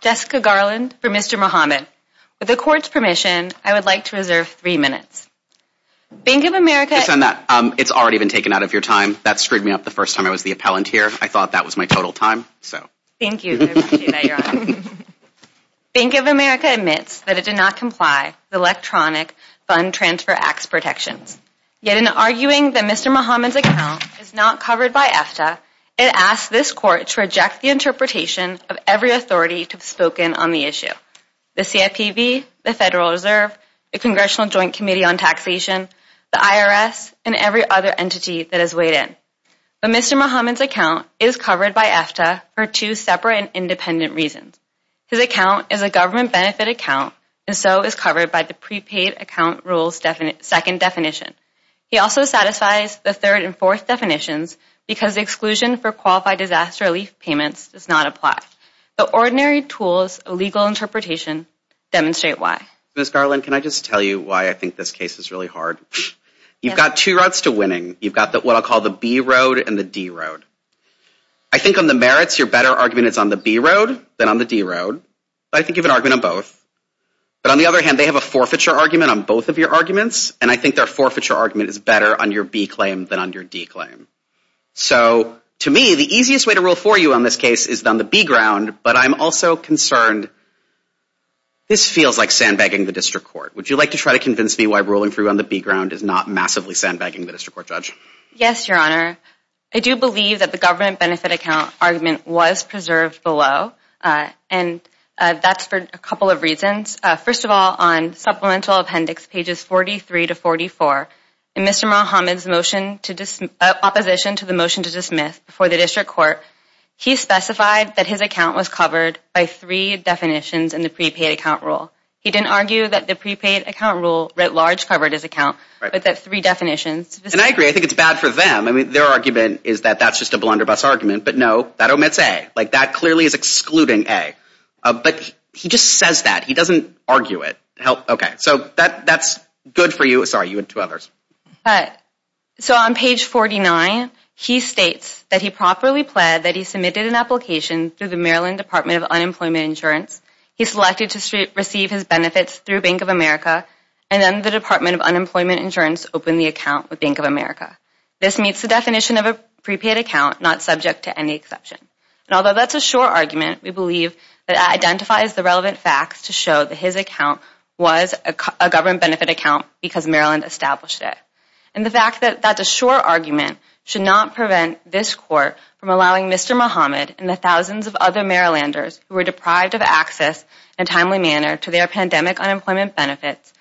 Jessica Garland v. Mr. Mohamed. With the Court's permission, I would like to reserve three minutes. Bank of America admits that it did not comply with Electronic Fund Transfer Acts protections. Yet in arguing that Mr. Mohamed's account is not covered by AFTA, it asks this Court to reject the interpretation of every authority to have spoken on the issue. The CFPB, the Federal Reserve, the Congressional Joint Committee on Taxation, the IRS, and every other entity that has weighed in. But Mr. Mohamed's account is covered by AFTA for two separate and independent reasons. His account is a government benefit account, and so is covered by the prepaid account rules second definition. He also satisfies the third and fourth definitions because exclusion for qualified disaster relief payments does not apply. The ordinary tools of legal interpretation demonstrate why. Ms. Garland, can I just tell you why I think this case is really hard? You've got two routes to winning. You've got what I'll call the B road and the D road. I think on the merits, your better argument is on the B road than on the D road. I think you have an argument on both. But on the other hand, they have a forfeiture argument on both of your arguments, and I think their forfeiture argument is better on your B claim than on your D claim. So, to me, the easiest way to rule for you on this case is on the B ground, but I'm also concerned this feels like sandbagging the District Court. Would you like to try to convince me why ruling for you on the B ground is not massively sandbagging the District Court, Judge? Yes, Your Honor. I do believe that the government benefit account argument was preserved below, and that's for a couple of reasons. First of all, on Supplemental Appendix pages 43 to 44, in Mr. Muhammad's opposition to the motion to dismiss before the District Court, he specified that his account was covered by three definitions in the prepaid account rule. He didn't argue that the prepaid account rule writ large covered his account, but that three definitions. And I agree. I think it's bad for them. Their argument is that that's just a blunderbuss argument, but no, that omits A. Like, that clearly is excluding A. But he just says that. He doesn't argue it. Okay, so that's good for you. Sorry, you had two others. So, on page 49, he states that he properly pled that he submitted an application through the Maryland Department of Unemployment Insurance. He selected to receive his benefits through Bank of America, and then the Department of Unemployment Insurance opened the account with Bank of America. This meets the definition of a prepaid account, not subject to any exception. And although that's a short argument, we believe that it identifies the relevant facts to show that his account was a government benefit account because Maryland established it. And the fact that that's a short argument should not prevent this Court from allowing Mr. Muhammad and the thousands of other Marylanders who are deprived of access in a timely manner to their pandemic unemployment benefits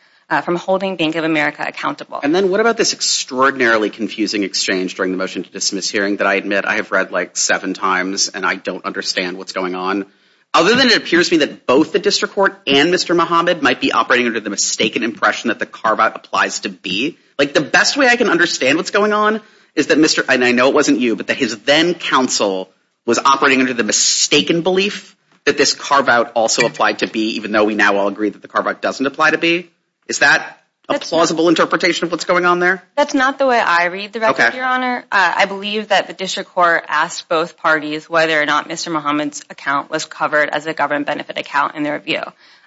from holding Bank of America accountable. And then what about this extraordinarily confusing exchange during the motion to dismiss hearing that I admit I have read like seven times and I don't understand what's going on? Other than it appears to me that both the District Court and Mr. Muhammad might be operating under the mistaken impression that the carve-out applies to B. Like, the best way I can understand what's going on is that Mr. and I know it wasn't you, but that his then-counsel was operating under the mistaken belief that this carve-out also applied to B, even though we now all agree that the carve-out doesn't apply to B. Is that a plausible interpretation of what's going on there? That's not the way I read the record, Your Honor. I believe that the District Court asked both parties whether or not Mr. Muhammad's account was covered as a government benefit account in their review.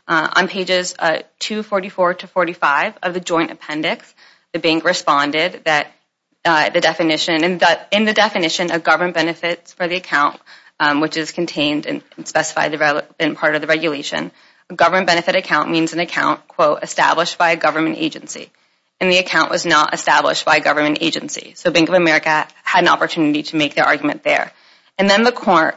On pages 244 to 245 of the joint appendix, the Bank responded that the definition and that in the definition of government benefits for the account, which is contained and specified in part of the regulation, a government benefit account means an account, quote, established by a government agency. And the account was not established by a government agency. So Bank of America had an opportunity to make their argument there. And then the court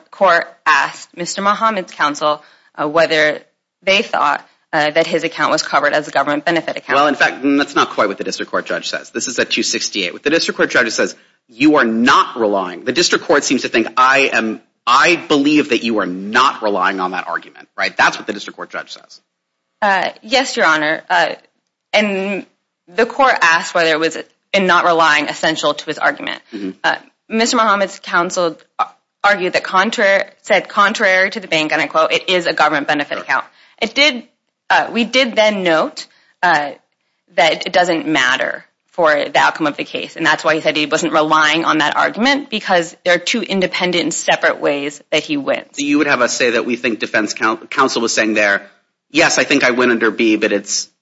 asked Mr. Muhammad's counsel whether they thought that his account was covered as a government benefit account. Well, in fact, that's not quite what the District Court judge says. This is at 268. What the District Court judge says, you are not relying. The District Court seems to think, I believe that you are not relying on that argument, right? That's what the District Court judge says. Yes, Your Honor. And the court asked whether it was in not relying essential to his argument. Mr. Muhammad's counsel argued that contrary, said contrary to the Bank, and I quote, it is a government benefit account. It did, we did then note that it doesn't matter for the outcome of the case. And that's why he said he wasn't relying on that argument because there are two independent separate ways that he went. So you would have us say that we think defense counsel was saying there, yes, I think I went under B, but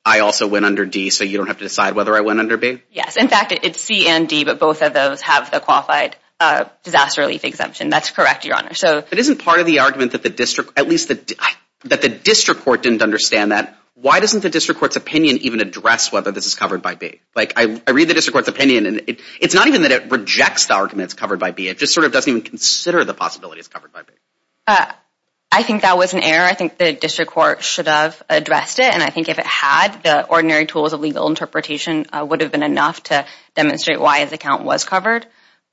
I also went under D, so you don't have to decide whether I went under B? Yes, in fact, it's C and D, but both of those have the qualified disaster relief exemption. That's correct, Your Honor. But isn't part of the argument that the District, at least that the District Court didn't understand that, why doesn't the District Court's opinion even address whether this is covered by B? Like I read the District Court's opinion, and it's not even that it rejects the argument it's covered by B. It just sort of doesn't even consider the possibility it's covered by B. I think that was an error. I think the District Court should have addressed it, and I think if it had, the ordinary tools of legal interpretation would have been enough to demonstrate why his account was covered.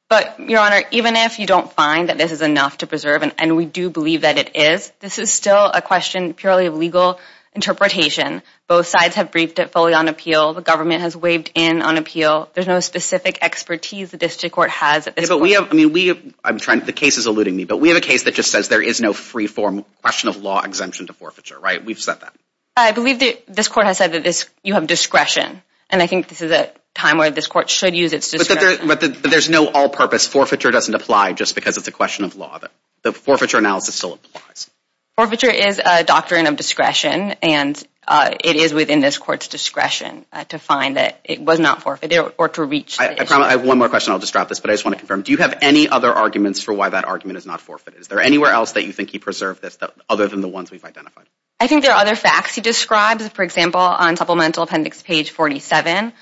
But, Your Honor, even if you don't find that this is enough to preserve, and we do believe that it is, this is still a question purely of legal interpretation. Both sides have briefed it fully on appeal. The government has waved in on appeal. There's no specific expertise the District Court has at this point. The case is alluding me, but we have a case that just says there is no free-form question of law exemption to forfeiture, right? We've said that. I believe that this Court has said that you have discretion, and I think this is a time where this Court should use its discretion. But there's no all-purpose forfeiture doesn't apply just because it's a question of law. The forfeiture analysis still applies. Forfeiture is a doctrine of discretion, and it is within this Court's discretion to find that it was not forfeited or to reach the issue. I have one more question. I'll just drop this, but I just want to confirm. Do you have any other arguments for why that argument is not forfeited? Is there anywhere else that you think he preserved this other than the ones we've identified? I think there are other facts. He describes, for example, on Supplemental Appendix page 47,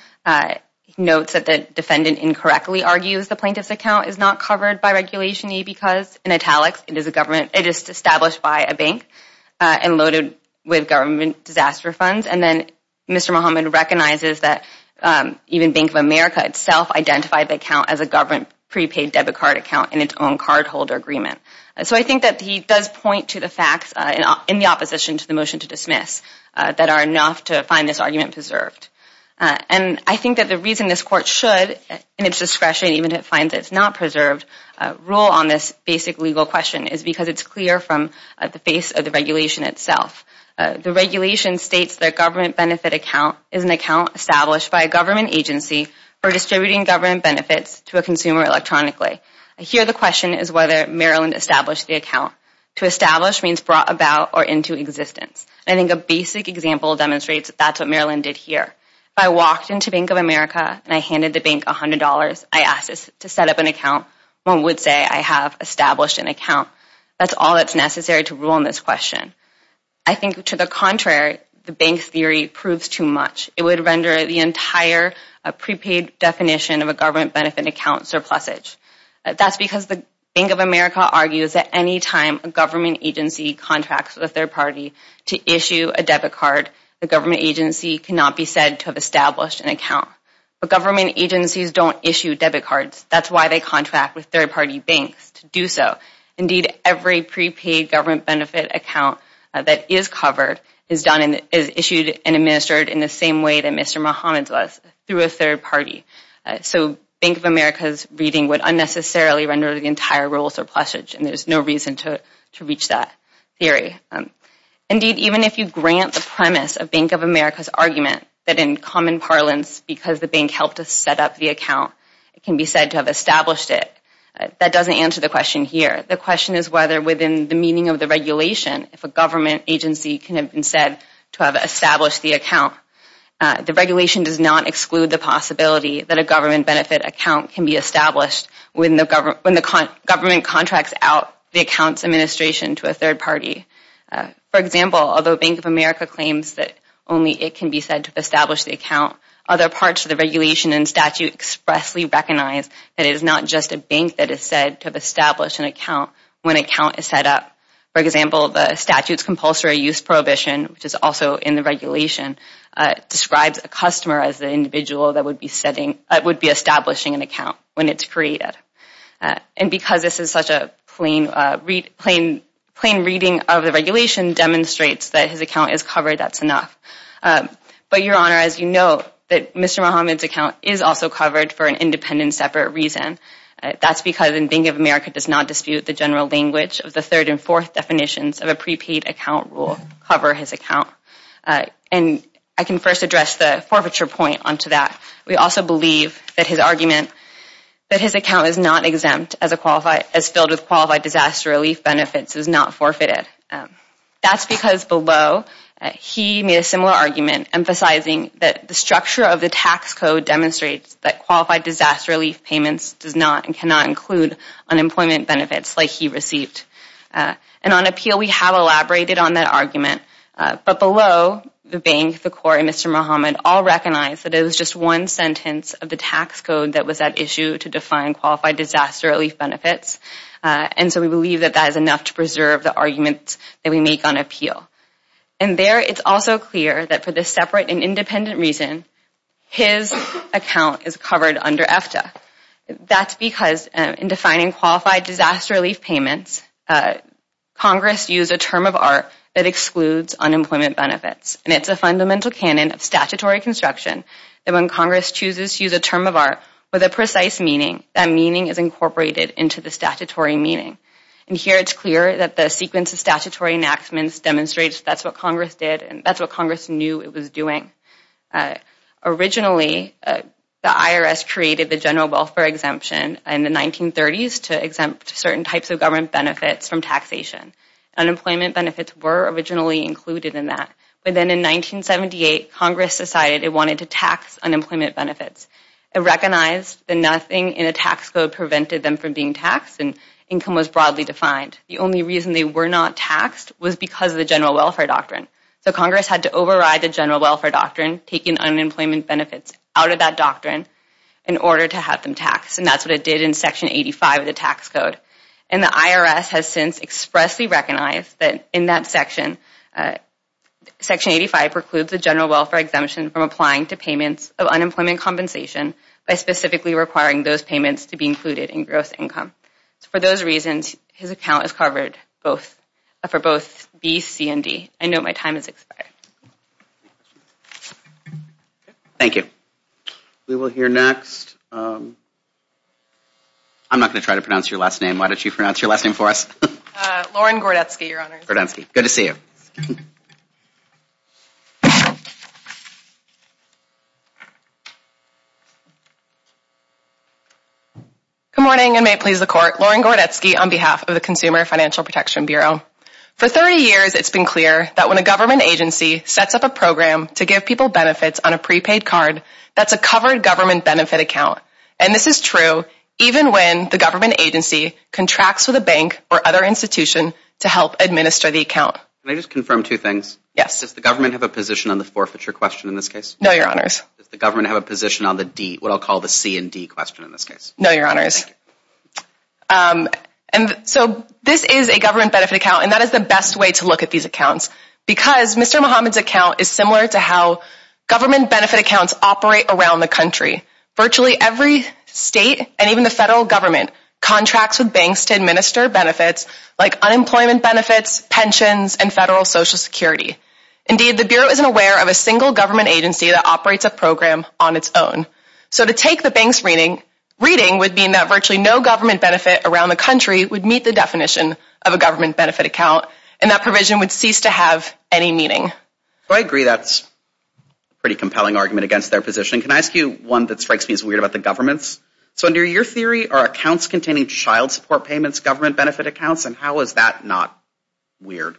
notes that the defendant incorrectly argues the plaintiff's account is not covered by Regulation E because, in italics, it is established by a bank and loaded with government disaster funds. And then Mr. Muhammad recognizes that even Bank of America itself identified the account as a government prepaid debit card account in its own cardholder agreement. So I think that he does point to the facts in the opposition to the motion to dismiss that are enough to find this argument preserved. And I think that the reason this Court should, in its discretion even to find that it's not preserved, rule on this basic legal question is because it's clear from the face of the regulation itself. The regulation states that a government benefit account is an account established by a government agency for distributing government benefits to a consumer electronically. Here the question is whether Maryland established the account. To establish means brought about or into existence. I think a basic example demonstrates that that's what Maryland did here. If I walked into Bank of America and I handed the bank $100, I asked it to set up an account, one would say I have established an account. That's all that's necessary to rule on this question. I think to the contrary, the bank theory proves too much. It would render the entire prepaid definition of a government benefit account surplusage. That's because the Bank of America argues that any time a government agency contracts with a third party to issue a debit card, the government agency cannot be said to have established an account. But government agencies don't issue debit cards. That's why they contract with third party banks to do so. Indeed, every prepaid government benefit account that is covered is issued and administered in the same way that Mr. Mohammed does, through a third party. So Bank of America's reading would unnecessarily render the entire rule surplusage, and there's no reason to reach that theory. Indeed, even if you grant the premise of Bank of America's argument that in common parlance, because the bank helped us set up the account, it can be said to have established it, that doesn't answer the question here. The question is whether within the meaning of the regulation, if a government agency can have been said to have established the account. The regulation does not exclude the possibility that a government benefit account can be established when the government contracts out the account's administration to a third party. For example, although Bank of America claims that only it can be said to have established the account, other parts of the regulation and statute expressly recognize that it is not just a bank that is said to have established an account when an account is set up. For example, the statute's compulsory use prohibition, which is also in the regulation, describes a customer as the individual that would be establishing an account when it's created. And because this is such a plain reading of the regulation demonstrates that his account is covered, that's enough. But Your Honor, as you know, Mr. Muhammad's account is also covered for an independent separate reason. That's because Bank of America does not dispute the general language of the third and fourth definitions of a prepaid account rule to cover his account. And I can first address the forfeiture point onto that. We also believe that his argument that his account is not exempt as filled with qualified disaster relief benefits is not forfeited. That's because below, he made a similar argument emphasizing that the structure of the tax code demonstrates that qualified disaster relief payments does not and cannot include unemployment benefits like he received. And on appeal, we have elaborated on that argument. But below, the bank, the court, and Mr. Muhammad all recognize that it was just one sentence of the tax code that was at issue to define qualified disaster relief benefits. And so we believe that that is enough to preserve the arguments that we make on appeal. And there, it's also clear that for this separate and independent reason, his account is covered under EFTA. That's because in defining qualified disaster relief payments, Congress used a term of art that excludes unemployment benefits. And it's a fundamental canon of statutory construction that when Congress chooses to use a term of art with a precise meaning, that meaning is incorporated into the statutory meaning. And here, it's clear that the sequence of statutory enactments demonstrates that's what Congress did and that's what Congress knew it was doing. Originally, the IRS created the general welfare exemption in the 1930s to exempt certain types of government benefits from taxation. Unemployment benefits were originally included in that. But then in 1978, Congress decided it wanted to tax unemployment benefits. It recognized that nothing in a tax code prevented them from being taxed and income was broadly defined. The only reason they were not taxed was because of the general welfare doctrine. So Congress had to override the general welfare doctrine, taking unemployment benefits out of that doctrine in order to have them taxed. And that's what it did in Section 85 of the tax code. And the IRS has since expressly recognized that in that section, Section 85 precludes the general welfare exemption from applying to payments of unemployment compensation by specifically requiring those payments to be included in gross income. For those reasons, his account is covered for both B, C, and D. I note my time has expired. Thank you. We will hear next. I'm not going to try to pronounce your last name. Why don't you pronounce your last name for us? Lauren Gordetsky, Your Honor. Good to see you. Good morning and may it please the Court. Lauren Gordetsky on behalf of the Consumer Financial Protection Bureau. For 30 years, it's been clear that when a government agency sets up a program to give people benefits on a prepaid card, that's a covered government benefit account. And this is true even when the government agency contracts with a bank or other institution to help administer the account. Can I just confirm two things? Yes. Does the government have a position on the forfeiture question in this case? No, Your Honors. Does the government have a position on the D, what I'll call the C and D question in this case? No, Your Honors. Thank you. And so this is a government benefit account, and that is the best way to look at these accounts because Mr. Muhammad's account is similar to how government benefit accounts operate around the country. Virtually every state and even the federal government contracts with banks to administer benefits like unemployment benefits, pensions, and federal Social Security. Indeed, the Bureau isn't aware of a single government agency that operates a program on its own. So to take the bank's reading would mean that virtually no government benefit around the country would meet the definition of a government benefit account, and that provision would cease to have any meaning. I agree. That's a pretty compelling argument against their position. Can I ask you one that strikes me as weird about the governments? So under your theory, are accounts containing child support payments government benefit accounts, and how is that not weird?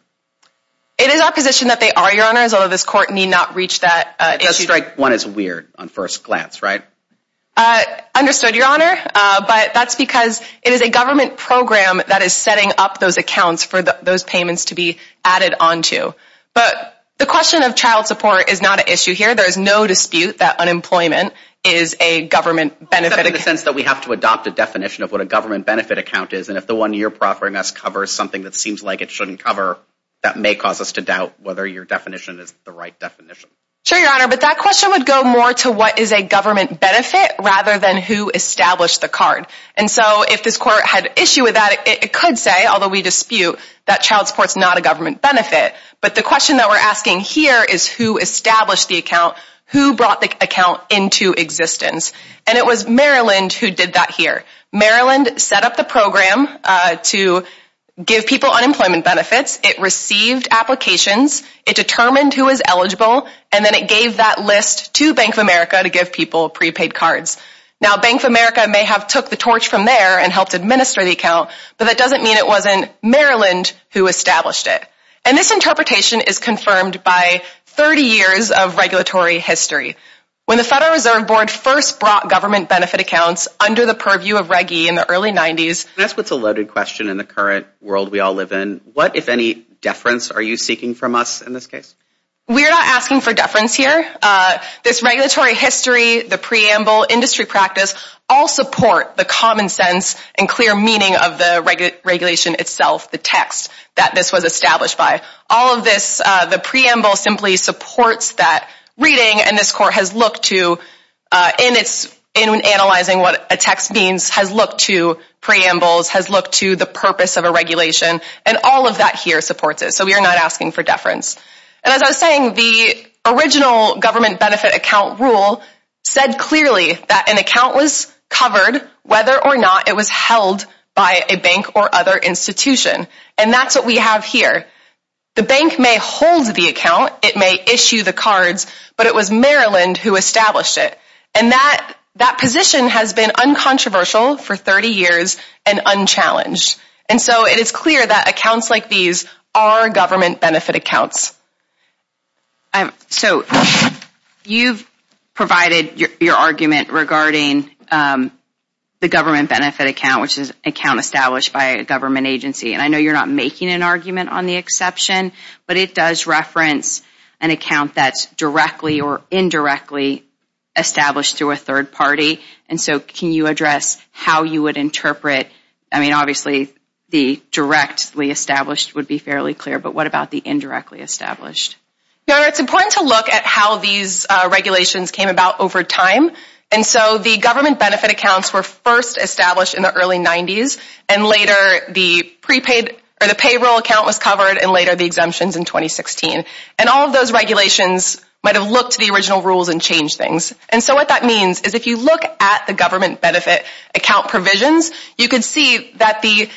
It is our position that they are, Your Honors, although this Court need not reach that issue. It does strike one as weird on first glance, right? Understood, Your Honor. But that's because it is a government program that is setting up those accounts for those payments to be added onto. But the question of child support is not an issue here. There is no dispute that unemployment is a government benefit account. Is that in the sense that we have to adopt a definition of what a government benefit account is, and if the one you're offering us covers something that seems like it shouldn't cover, that may cause us to doubt whether your definition is the right definition. Sure, Your Honor, but that question would go more to what is a government benefit rather than who established the card. And so if this Court had an issue with that, it could say, although we dispute, that child support is not a government benefit. But the question that we're asking here is who established the account, who brought the account into existence. And it was Maryland who did that here. Maryland set up the program to give people unemployment benefits. It received applications. It determined who was eligible. And then it gave that list to Bank of America to give people prepaid cards. Now Bank of America may have took the torch from there and helped administer the account, but that doesn't mean it wasn't Maryland who established it. And this interpretation is confirmed by 30 years of regulatory history. When the Federal Reserve Board first brought government benefit accounts under the purview of Reg E in the early 90s. That's what's a loaded question in the current world we all live in. What, if any, deference are you seeking from us in this case? We're not asking for deference here. This regulatory history, the preamble, industry practice, all support the common sense and clear meaning of the regulation itself, the text that this was established by. All of this, the preamble simply supports that reading, and this court has looked to, in analyzing what a text means, has looked to preambles, has looked to the purpose of a regulation, and all of that here supports it. So we are not asking for deference. And as I was saying, the original government benefit account rule said clearly that an account was covered, whether or not it was held by a bank or other institution. And that's what we have here. The bank may hold the account. It may issue the cards. But it was Maryland who established it. And that position has been uncontroversial for 30 years and unchallenged. And so it is clear that accounts like these are government benefit accounts. So you've provided your argument regarding the government benefit account, which is an account established by a government agency. And I know you're not making an argument on the exception, but it does reference an account that's directly or indirectly established through a third party. And so can you address how you would interpret, I mean, obviously the directly established would be fairly clear, but what about the indirectly established? Your Honor, it's important to look at how these regulations came about over time. And so the government benefit accounts were first established in the early 90s, and later the payroll account was covered, and later the exemptions in 2016. And all of those regulations might have looked to the original rules and changed things. And so what that means is if you look at the government benefit account provisions, you can see that the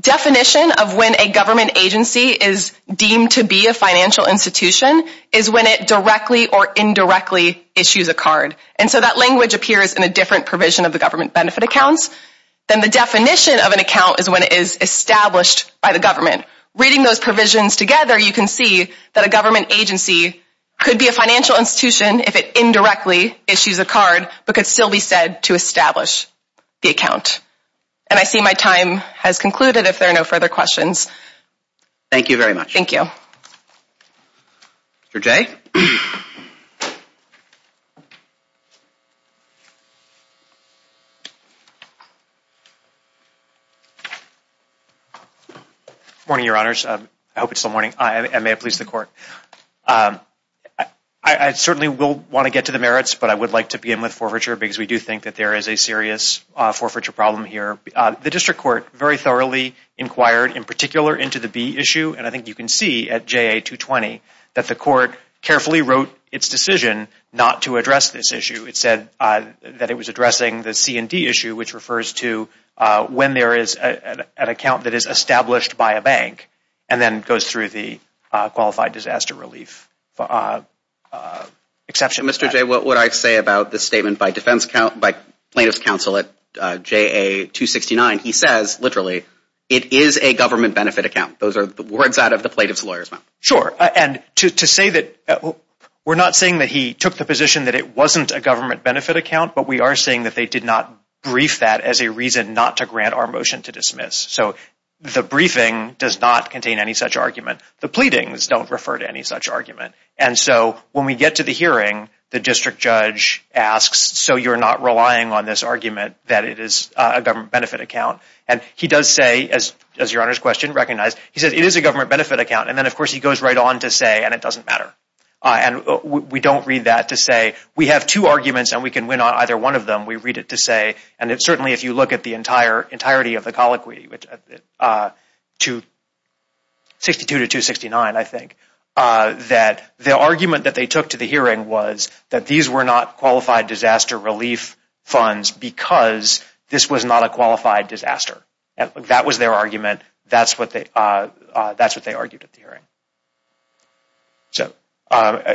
definition of when a government agency is deemed to be a financial institution is when it directly or indirectly issues a card. And so that language appears in a different provision of the government benefit accounts than the definition of an account is when it is established by the government. Reading those provisions together, you can see that a government agency could be a financial institution if it indirectly issues a card, but could still be said to establish the account. And I see my time has concluded if there are no further questions. Thank you very much. Thank you. Mr. Jay? Good morning, Your Honors. I hope it's still morning. And may it please the Court. I certainly will want to get to the merits, but I would like to begin with forfeiture because we do think that there is a problem here. The District Court very thoroughly inquired, in particular, into the B issue, and I think you can see at JA-220, that the Court carefully wrote its decision not to address this issue. It said that it was addressing the C&D issue, which refers to when there is an account that is established by a bank, and then goes through the Qualified Disaster Relief exception. Mr. Jay, what would I say about the statement by plaintiff's counsel at JA-269? He says, literally, it is a government benefit account. Those are the words out of the plaintiff's lawyer's mouth. Sure. And to say that we're not saying that he took the position that it wasn't a government benefit account, but we are saying that they did not brief that as a reason not to grant our motion to dismiss. So the briefing does not contain any such argument. The pleadings don't refer to any such argument. And so when we get to the hearing, the district judge asks, so you're not relying on this argument that it is a government benefit account? And he does say, as your Honor's question recognized, he says it is a government benefit account. And then, of course, he goes right on to say, and it doesn't matter. And we don't read that to say we have two arguments and we can win on either one of them. We read it to say, and certainly if you look at the entirety of the hearing, the argument that they took to the hearing was that these were not qualified disaster relief funds because this was not a qualified disaster. That was their argument. That's what they argued at the hearing. So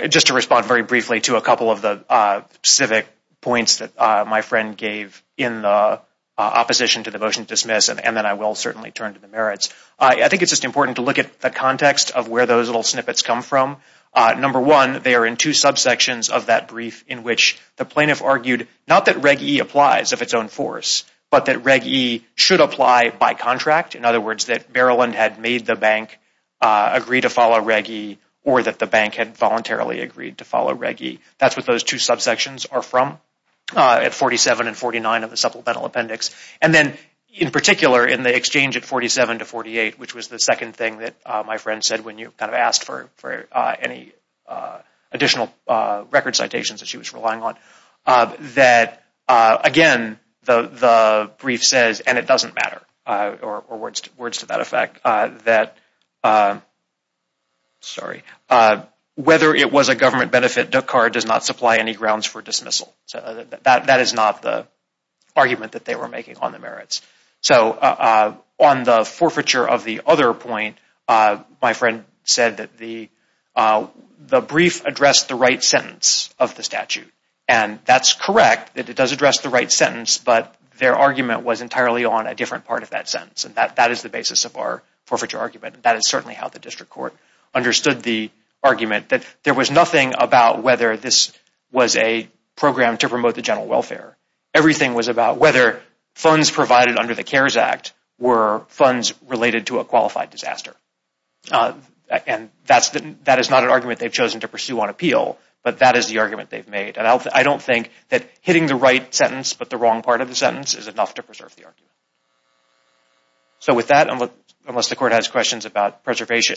just to respond very briefly to a couple of the civic points that my friend gave in the opposition to the motion to dismiss, and then I will certainly turn to the merits. I think it's just important to look at the context of where those little they are in two subsections of that brief in which the plaintiff argued, not that Reg E applies of its own force, but that Reg E should apply by contract. In other words, that Maryland had made the bank agree to follow Reg E, or that the bank had voluntarily agreed to follow Reg E. That's what those two subsections are from at 47 and 49 of the supplemental appendix. And then, in particular, in the exchange at 47 to 48, which was the second thing that my friend said when you kind of asked for any additional record citations that she was relying on, that again the brief says, and it doesn't matter, or words to that effect, that whether it was a government benefit, Dukkar does not supply any grounds for dismissal. That is not the argument that they were making on the merits. So on the forfeiture of the other point, my friend said that the brief addressed the right sentence of the statute. And that's correct, that it does address the right sentence, but their argument was entirely on a different part of that sentence. And that is the basis of our forfeiture argument. That is certainly how the district court understood the argument, that there was nothing about whether this was a program to promote the general welfare. Everything was about whether funds provided under the CARES Act were funds related to a qualified disaster. And that is not an argument they've chosen to pursue on appeal, but that is the argument they've made. And I don't think that hitting the right sentence, but the wrong part of the sentence, is enough to preserve the argument. So with that, unless the court has questions about preservation.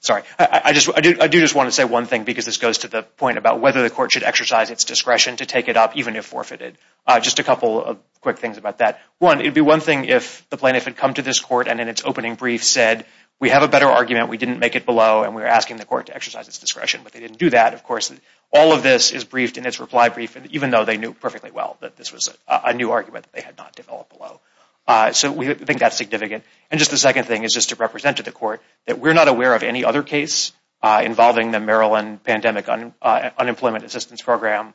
Sorry, I do just want to say one thing, because this goes to the point about whether the court should exercise its discretion to take it up, even if forfeited. Just a couple of quick things about that. One, it would be one thing if the plaintiff had come to this court and in its opening brief said, we have a better argument, we didn't make it below, and we're asking the court to exercise its discretion. But they didn't do that, of course. All of this is briefed in its reply brief, even though they knew perfectly well that this was a new argument that they had not developed below. So we think that's significant. And just the second thing is just to represent to the court that we're not aware of any other case involving the Maryland Pandemic Unemployment Assistance Program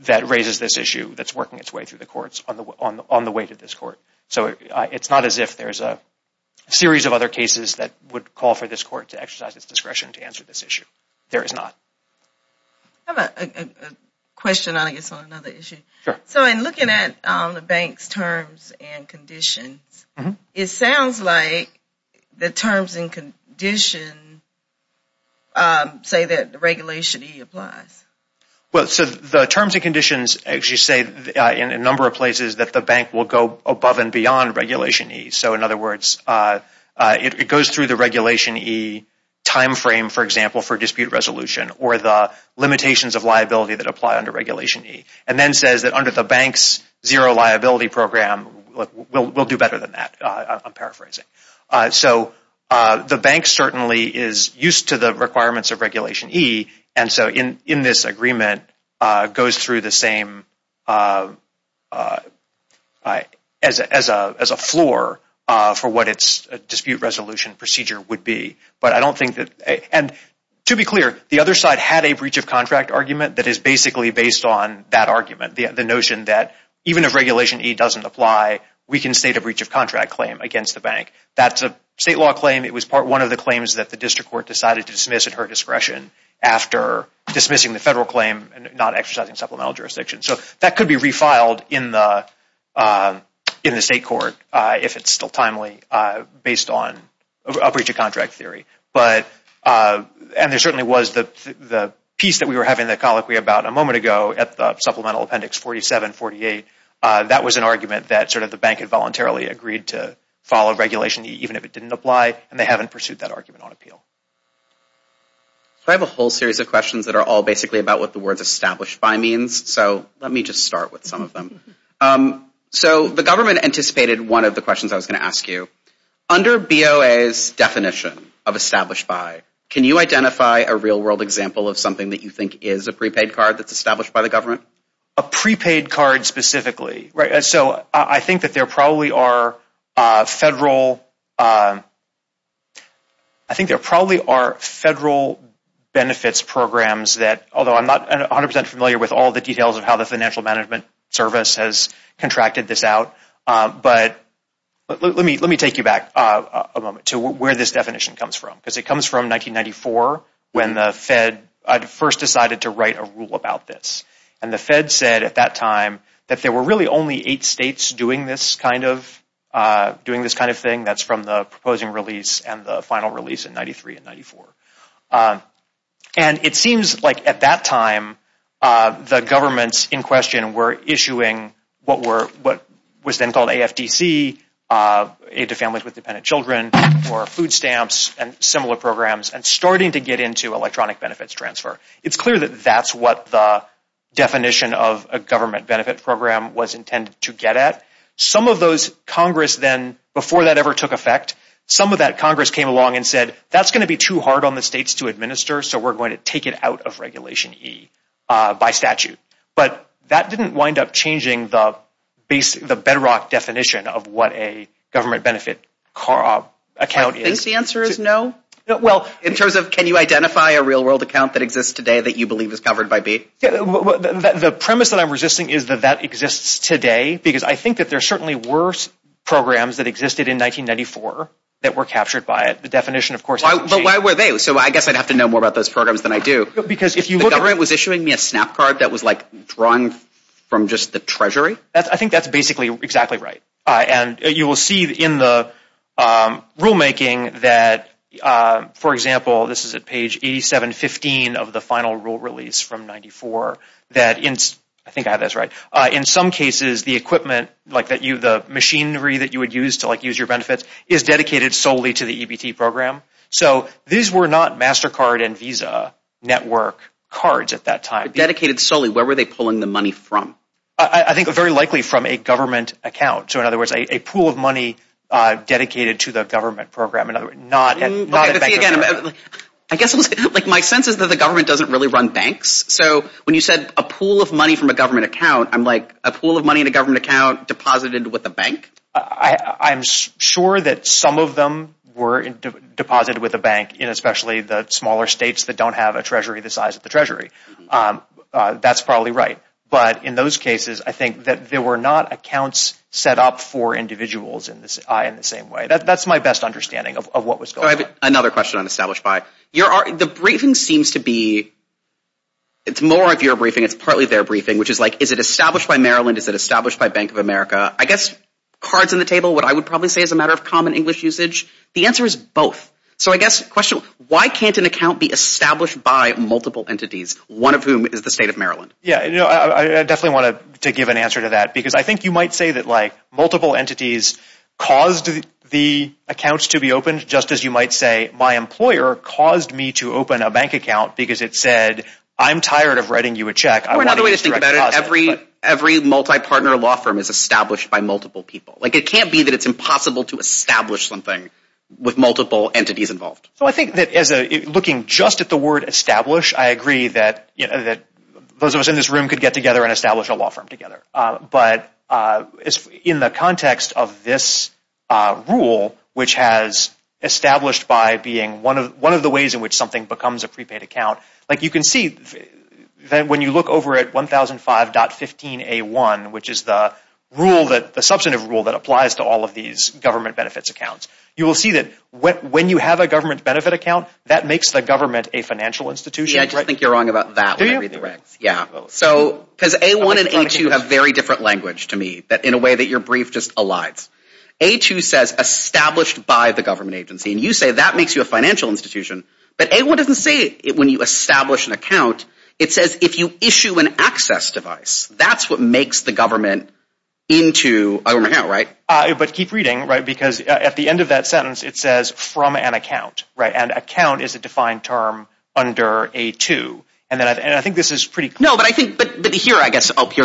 that raises this issue that's working its way through the courts on the way to this court. So it's not as if there's a series of other cases that would call for this court to exercise its discretion to answer this issue. There is not. I have a question, I guess, on another issue. Sure. So in looking at the bank's terms and conditions, it sounds like the terms and conditions say that regulation E applies. Well, so the terms and conditions actually say in a number of places that the bank will go above and beyond regulation E. So in other words, it goes through the regulation E timeframe, for example, for dispute resolution or the limitations of liability that apply under regulation E. And then says that under the bank's zero liability program, we'll do better than that, I'm paraphrasing. So the bank certainly is used to the requirements of regulation E, and so in this agreement goes through the same as a floor for what its dispute resolution procedure would be. But I don't think that – and to be clear, the other side had a breach of contract argument that is basically based on that argument, the notion that even if regulation E doesn't apply, we can state a breach of contract claim against the bank. That's a state law claim. dismissing the federal claim and not exercising supplemental jurisdiction. So that could be refiled in the state court if it's still timely based on a breach of contract theory. And there certainly was the piece that we were having the colloquy about a moment ago at the supplemental appendix 4748. That was an argument that sort of the bank had voluntarily agreed to follow regulation E even if it didn't apply, and they haven't pursued that argument on appeal. I have a whole series of questions that are all basically about what the words established by means, so let me just start with some of them. So the government anticipated one of the questions I was going to ask you. Under BOA's definition of established by, can you identify a real world example of something that you think is a prepaid card that's established by the government? A prepaid card specifically. So I think that there probably are federal benefits programs that, although I'm not 100% familiar with all the details of how the financial management service has contracted this out, but let me take you back a moment to where this definition comes from, because it comes from 1994 when the Fed first decided to write a rule about this. And the Fed said at that time that there were really only eight states doing this kind of thing. That's from the proposing release and the final release in 93 and 94. And it seems like at that time the governments in question were issuing what was then called AFDC, Aid to Families with Dependent Children, or food stamps and similar programs, and starting to get into electronic benefits transfer. It's clear that that's what the definition of a government benefit program was intended to get at. Some of those Congress then, before that ever took effect, some of that Congress came along and said that's going to be too hard on the states to administer, so we're going to take it out of Regulation E by statute. But that didn't wind up changing the bedrock definition of what a government benefit account is. I think the answer is no. Well, in terms of can you identify a real world account that exists today that you believe is covered by BEAT? The premise that I'm resisting is that that exists today because I think that there certainly were programs that existed in 1994 that were captured by it. The definition, of course, hasn't changed. But why were they? So I guess I'd have to know more about those programs than I do. Because if you look at it. The government was issuing me a snap card that was like drawn from just the Treasury? I think that's basically exactly right. And you will see in the rulemaking that, for example, this is at page 8715 of the final rule release from 94, that in some cases the equipment, the machinery that you would use to use your benefits, is dedicated solely to the EBT program. So these were not MasterCard and Visa network cards at that time. Dedicated solely? Where were they pulling the money from? I think very likely from a government account. So in other words, a pool of money dedicated to the government program. Not a bank account. I guess my sense is that the government doesn't really run banks. So when you said a pool of money from a government account, I'm like a pool of money in a government account deposited with a bank? I'm sure that some of them were deposited with a bank, especially the smaller states that don't have a Treasury the size of the Treasury. That's probably right. But in those cases, I think that there were not accounts set up for individuals in the same way. That's my best understanding of what was going on. I have another question on established by. The briefing seems to be, it's more of your briefing, it's partly their briefing, which is like, is it established by Maryland? Is it established by Bank of America? I guess cards on the table, what I would probably say is a matter of common English usage. The answer is both. So I guess the question, why can't an account be established by multiple entities, one of whom is the state of Maryland? Yeah, I definitely want to give an answer to that because I think you might say that multiple entities caused the accounts to be opened, just as you might say my employer caused me to open a bank account because it said, I'm tired of writing you a check. Or another way to think about it, every multi-partner law firm is established by multiple people. It can't be that it's impossible to establish something with multiple entities involved. I think that looking just at the word establish, I agree that those of us in this room could get together and establish a law firm together. But in the context of this rule, which has established by being one of the ways in which something becomes a prepaid account, like you can see that when you look over at 1005.15A1, which is the rule, the substantive rule that applies to all of these government benefits accounts, you will see that when you have a government benefit account, that makes the government a financial institution. Maybe I just think you're wrong about that when I read the regs. Because A1 and A2 have very different language to me, in a way that your brief just elides. A2 says established by the government agency, and you say that makes you a financial institution, but A1 doesn't say it when you establish an account. It says if you issue an access device, that's what makes the government into a government agency. But keep reading, because at the end of that sentence, it says from an account. And account is a defined term under A2. And I think this is pretty clear. No, but I think here, I guess, here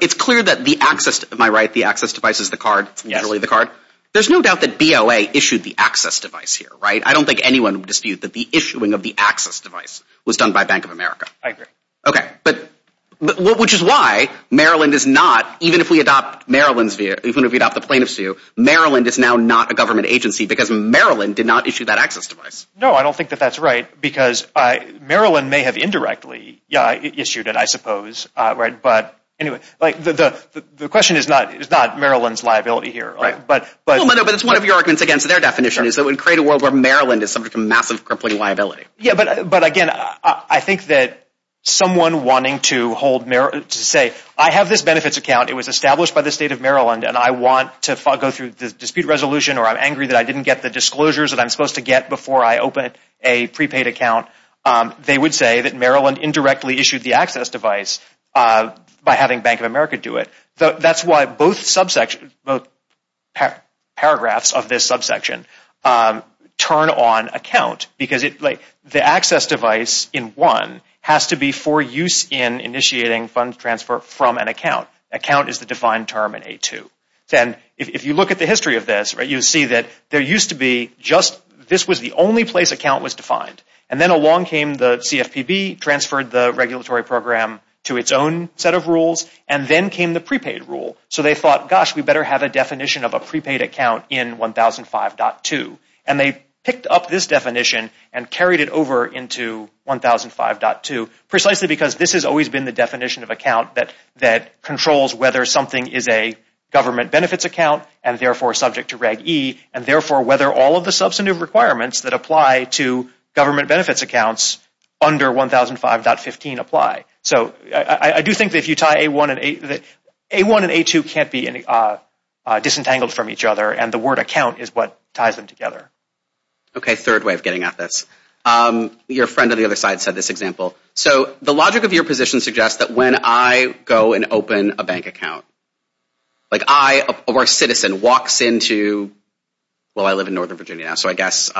it's clear that the access, am I right, the access device is the card? It's literally the card? There's no doubt that BOA issued the access device here, right? I don't think anyone would dispute that the issuing of the access device was done by Bank of America. I agree. Okay. Which is why Maryland is not, even if we adopt the plaintiffs' view, Maryland is now not a government agency, because Maryland did not issue that access device. No, I don't think that that's right, because Maryland may have indirectly issued it, I suppose. But anyway, the question is not Maryland's liability here. Right. But it's one of your arguments against their definition, is that it would create a world where Maryland is subject to massive crippling liability. Yeah, but again, I think that someone wanting to say, I have this benefits account. It was established by the state of Maryland, and I want to go through the dispute resolution, or I'm angry that I didn't get the disclosures that I'm supposed to get before I opened a prepaid account. They would say that Maryland indirectly issued the access device by having Bank of America do it. That's why both paragraphs of this subsection turn on account, because the access device in one has to be for use in initiating fund transfer from an account. Account is the defined term in A2. And if you look at the history of this, you'll see that there used to be just, this was the only place account was defined. And then along came the CFPB, transferred the regulatory program to its own set of rules, and then came the prepaid rule. So they thought, gosh, we better have a definition of a prepaid account in 1005.2. And they picked up this definition and carried it over into 1005.2, precisely because this has always been the definition of account that controls whether something is a government benefits account and therefore subject to Reg E, and therefore whether all of the substantive requirements that apply to government benefits accounts under 1005.15 apply. So I do think that if you tie A1 and A2, A1 and A2 can't be disentangled from each other, and the word account is what ties them together. Okay, third way of getting at this. Your friend on the other side said this example. So the logic of your position suggests that when I go and open a bank account, like I, a citizen, walks into, well, I live in Northern Virginia now, so I guess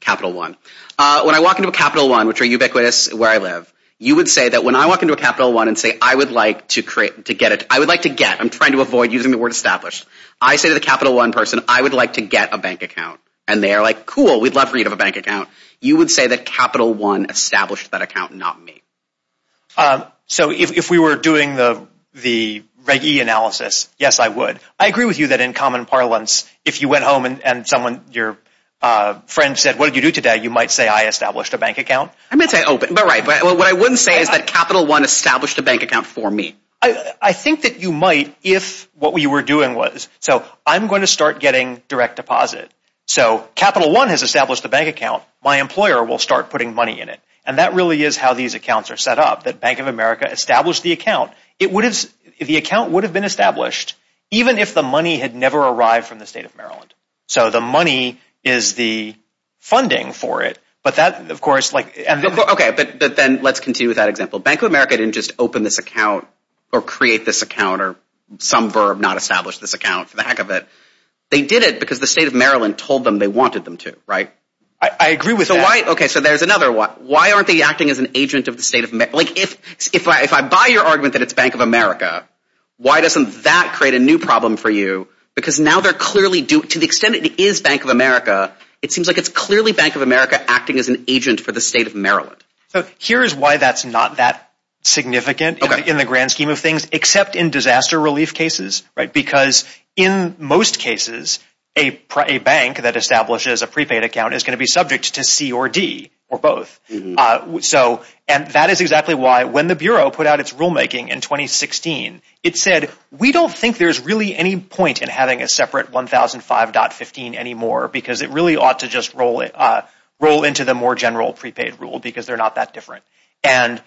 Capital One. When I walk into a Capital One, which are ubiquitous where I live, you would say that when I walk into a Capital One and say, I would like to get, I'm trying to avoid using the word established, I say to the Capital One person, I would like to get a bank account. And they're like, cool, we'd love for you to have a bank account. You would say that Capital One established that account, not me. So if we were doing the reg E analysis, yes, I would. I agree with you that in common parlance, if you went home and someone, your friend said, what did you do today? You might say, I established a bank account. I might say, oh, but right. What I wouldn't say is that Capital One established a bank account for me. I think that you might if what you were doing was, so I'm going to start getting direct deposit. So Capital One has established a bank account. My employer will start putting money in it. And that really is how these accounts are set up, that Bank of America established the account. It would have, the account would have been established, even if the money had never arrived from the state of Maryland. So the money is the funding for it, but that, of course, like. Okay, but then let's continue with that example. Bank of America didn't just open this account or create this account or some verb, not establish this account for the heck of it. They did it because the state of Maryland told them they wanted them to, right? I agree with that. Okay, so there's another one. Why aren't they acting as an agent of the state of, like, if I buy your argument that it's Bank of America, why doesn't that create a new problem for you? Because now they're clearly, to the extent it is Bank of America, it seems like it's clearly Bank of America acting as an agent for the state of Maryland. So here is why that's not that significant in the grand scheme of things, except in disaster relief cases, right? Because in most cases, a bank that establishes a prepaid account is going to be subject to C or D or both. So that is exactly why when the Bureau put out its rulemaking in 2016, it said we don't think there's really any point in having a separate 1005.15 anymore because it really ought to just roll into the more general prepaid rule because they're not that different. And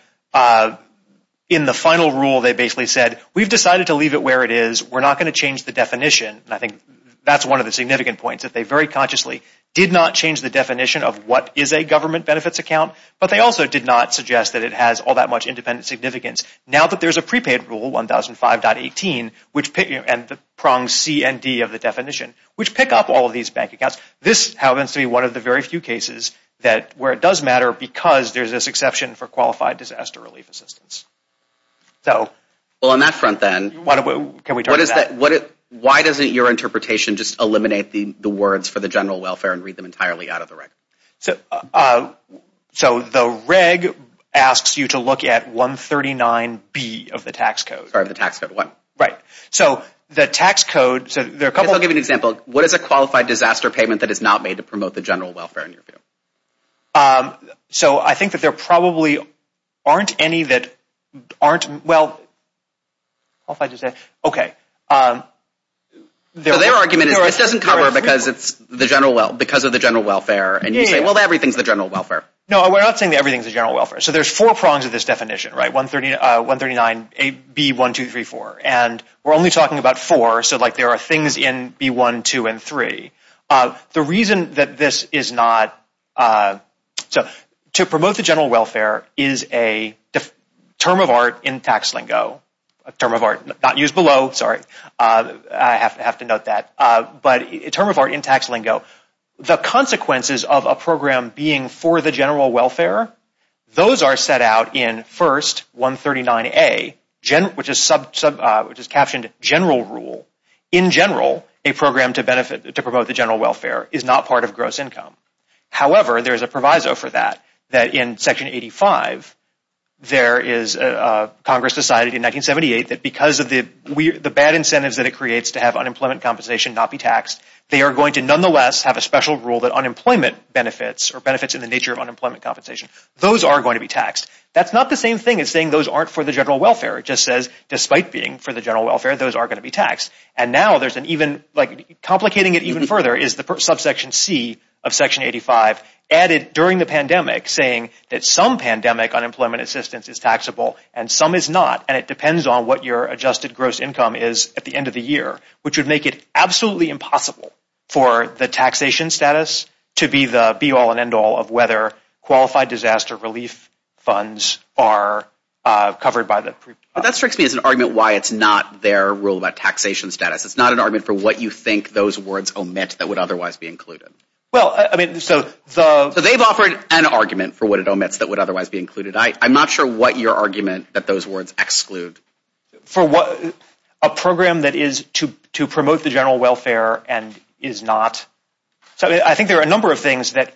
in the final rule, they basically said we've decided to leave it where it is. We're not going to change the definition. And I think that's one of the significant points, that they very consciously did not change the definition of what is a government benefits account, but they also did not suggest that it has all that much independent significance. Now that there's a prepaid rule, 1005.18, and the prongs C and D of the definition, which pick up all of these bank accounts, this happens to be one of the very few cases where it does matter because there's this exception for qualified disaster relief assistance. Well, on that front then, why doesn't your interpretation just eliminate the words for the general welfare and read them entirely out of the reg? So the reg asks you to look at 139B of the tax code. Sorry, of the tax code. Right. So the tax code, so there are a couple... I'll give you an example. What is a qualified disaster payment that is not made to promote the general welfare in your view? So I think that there probably aren't any that aren't... Well, how if I just say... Okay. So their argument is this doesn't cover because of the general welfare and you say, well, everything's the general welfare. No, we're not saying that everything's the general welfare. So there's four prongs of this definition, right? 139B, 1, 2, 3, 4. And we're only talking about four, so there are things in B1, 2, and 3. The reason that this is not... So to promote the general welfare is a term of art in tax lingo. A term of art not used below, sorry. I have to note that. But a term of art in tax lingo. The consequences of a program being for the general welfare, those are set out in first 139A, which is captioned general rule. In general, a program to benefit, to promote the general welfare is not part of gross income. However, there's a proviso for that, that in section 85, there is... Congress decided in 1978 that because of the bad incentives that it creates to have unemployment compensation not be taxed, they are going to nonetheless have a special rule that unemployment benefits or benefits in the nature of unemployment compensation, those are going to be taxed. That's not the same thing as saying those aren't for the general welfare. It just says despite being for the general welfare, those are going to be taxed. And now there's an even, like complicating it even further is the subsection C of section 85 added during the pandemic saying that some pandemic unemployment assistance is taxable and some is not. And it depends on what your adjusted gross income is at the end of the year, which would make it absolutely impossible for the taxation status to be the be-all and end-all of whether qualified disaster relief funds are covered by the... That strikes me as an argument why it's not their rule about taxation status. It's not an argument for what you think those words omit that would otherwise be included. Well, I mean, so the... So they've offered an argument for what it omits that would otherwise be included. I'm not sure what your argument that those words exclude. For what... A program that is to promote the general welfare and is not... So I think there are a number of things that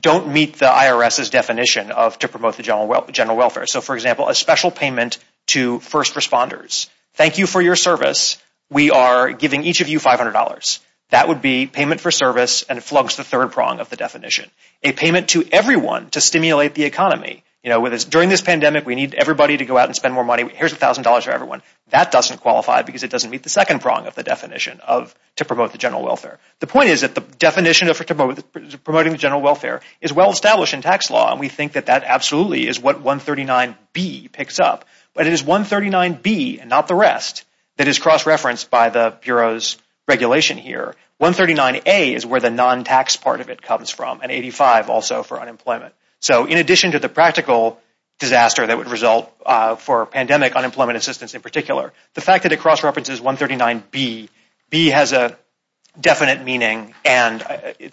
don't meet the IRS's definition of to promote the general welfare. So, for example, a special payment to first responders. Thank you for your service. We are giving each of you $500. That would be payment for service, and it flugs the third prong of the definition. A payment to everyone to stimulate the economy. During this pandemic, we need everybody to go out and spend more money. Here's $1,000 for everyone. That doesn't qualify because it doesn't meet the second prong of the definition of to promote the general welfare. The point is that the definition of promoting the general welfare is well-established in tax law, and we think that that absolutely is what 139B picks up. But it is 139B and not the rest that is cross-referenced by the Bureau's regulation here. 139A is where the non-tax part of it comes from, and 85 also for unemployment. So in addition to the practical disaster that would result for pandemic unemployment assistance in particular, the fact that it cross-references 139B, B has a definite meaning, and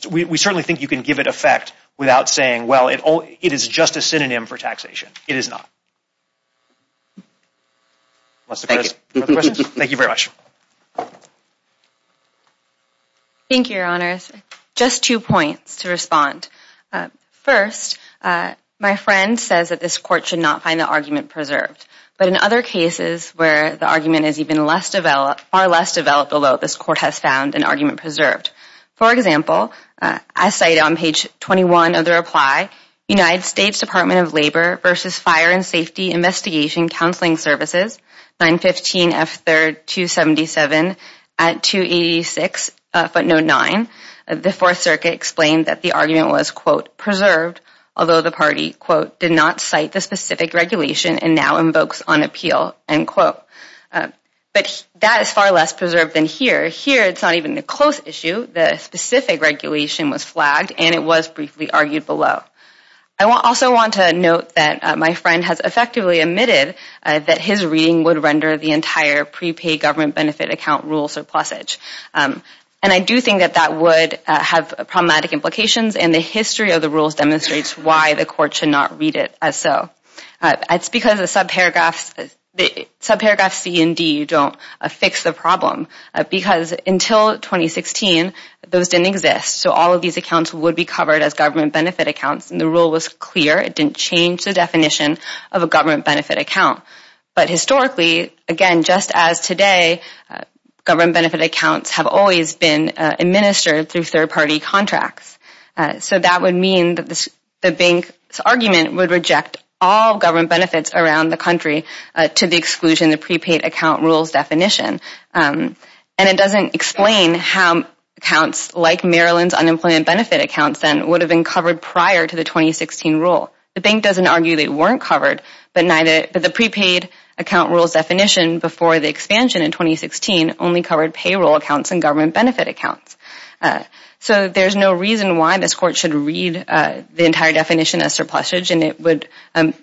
we certainly think you can give it effect without saying, well, it is just a synonym for taxation. It is not. Thank you very much. Thank you, Your Honors. Just two points to respond. First, my friend says that this court should not find the argument preserved. But in other cases where the argument is even far less developed, although this court has found an argument preserved. For example, I cite on page 21 of the reply, United States Department of Labor versus Fire and Safety Investigation Counseling Services, 915F3277 at 286 footnote 9. The Fourth Circuit explained that the argument was, quote, preserved, although the party, quote, did not cite the specific regulation and now invokes on appeal, end quote. But that is far less preserved than here. Here, it is not even a close issue. The specific regulation was flagged, and it was briefly argued below. I also want to note that my friend has effectively admitted that his reading would render the entire prepaid government benefit account rule surplusage. And I do think that that would have problematic implications, and the history of the rules demonstrates why the court should not read it as so. It is because the subparagraphs C and D don't fix the problem. Because until 2016, those didn't exist. So all of these accounts would be covered as government benefit accounts, and the rule was clear. It didn't change the definition of a government benefit account. But historically, again, just as today, government benefit accounts have always been administered through third-party contracts. So that would mean that the bank's argument would reject all government benefits around the country to the exclusion of And it doesn't explain how accounts like Maryland's unemployment benefit accounts then would have been covered prior to the 2016 rule. The bank doesn't argue they weren't covered, but the prepaid account rule's definition before the expansion in 2016 only covered payroll accounts and government benefit accounts. So there's no reason why this court should read the entire definition as surplusage, and it would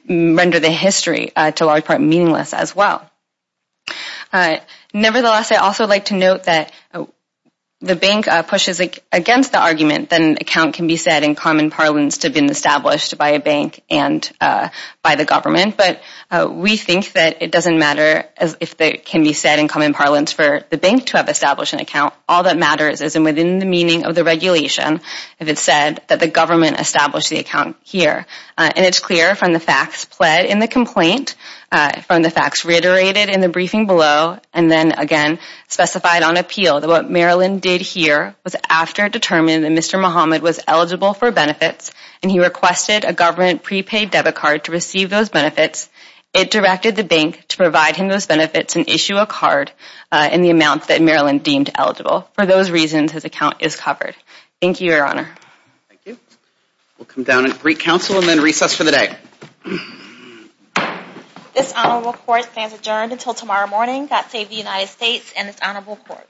render the history, to a large part, meaningless as well. Nevertheless, I'd also like to note that the bank pushes against the argument that an account can be said in common parlance to have been established by a bank and by the government. But we think that it doesn't matter if it can be said in common parlance for the bank to have established an account. All that matters is within the meaning of the regulation, if it's said that the government established the account here. And it's clear from the facts pled in the complaint, from the facts reiterated in the briefing below, and then, again, specified on appeal that what Maryland did here was after it determined that Mr. Muhammad was eligible for benefits and he requested a government prepaid debit card to receive those benefits, it directed the bank to provide him those benefits and issue a card in the amount that Maryland deemed eligible. For those reasons, his account is covered. Thank you, Your Honor. Thank you. We'll come down and greet counsel and then recess for the day. This honorable court stands adjourned until tomorrow morning. God save the United States and this honorable court.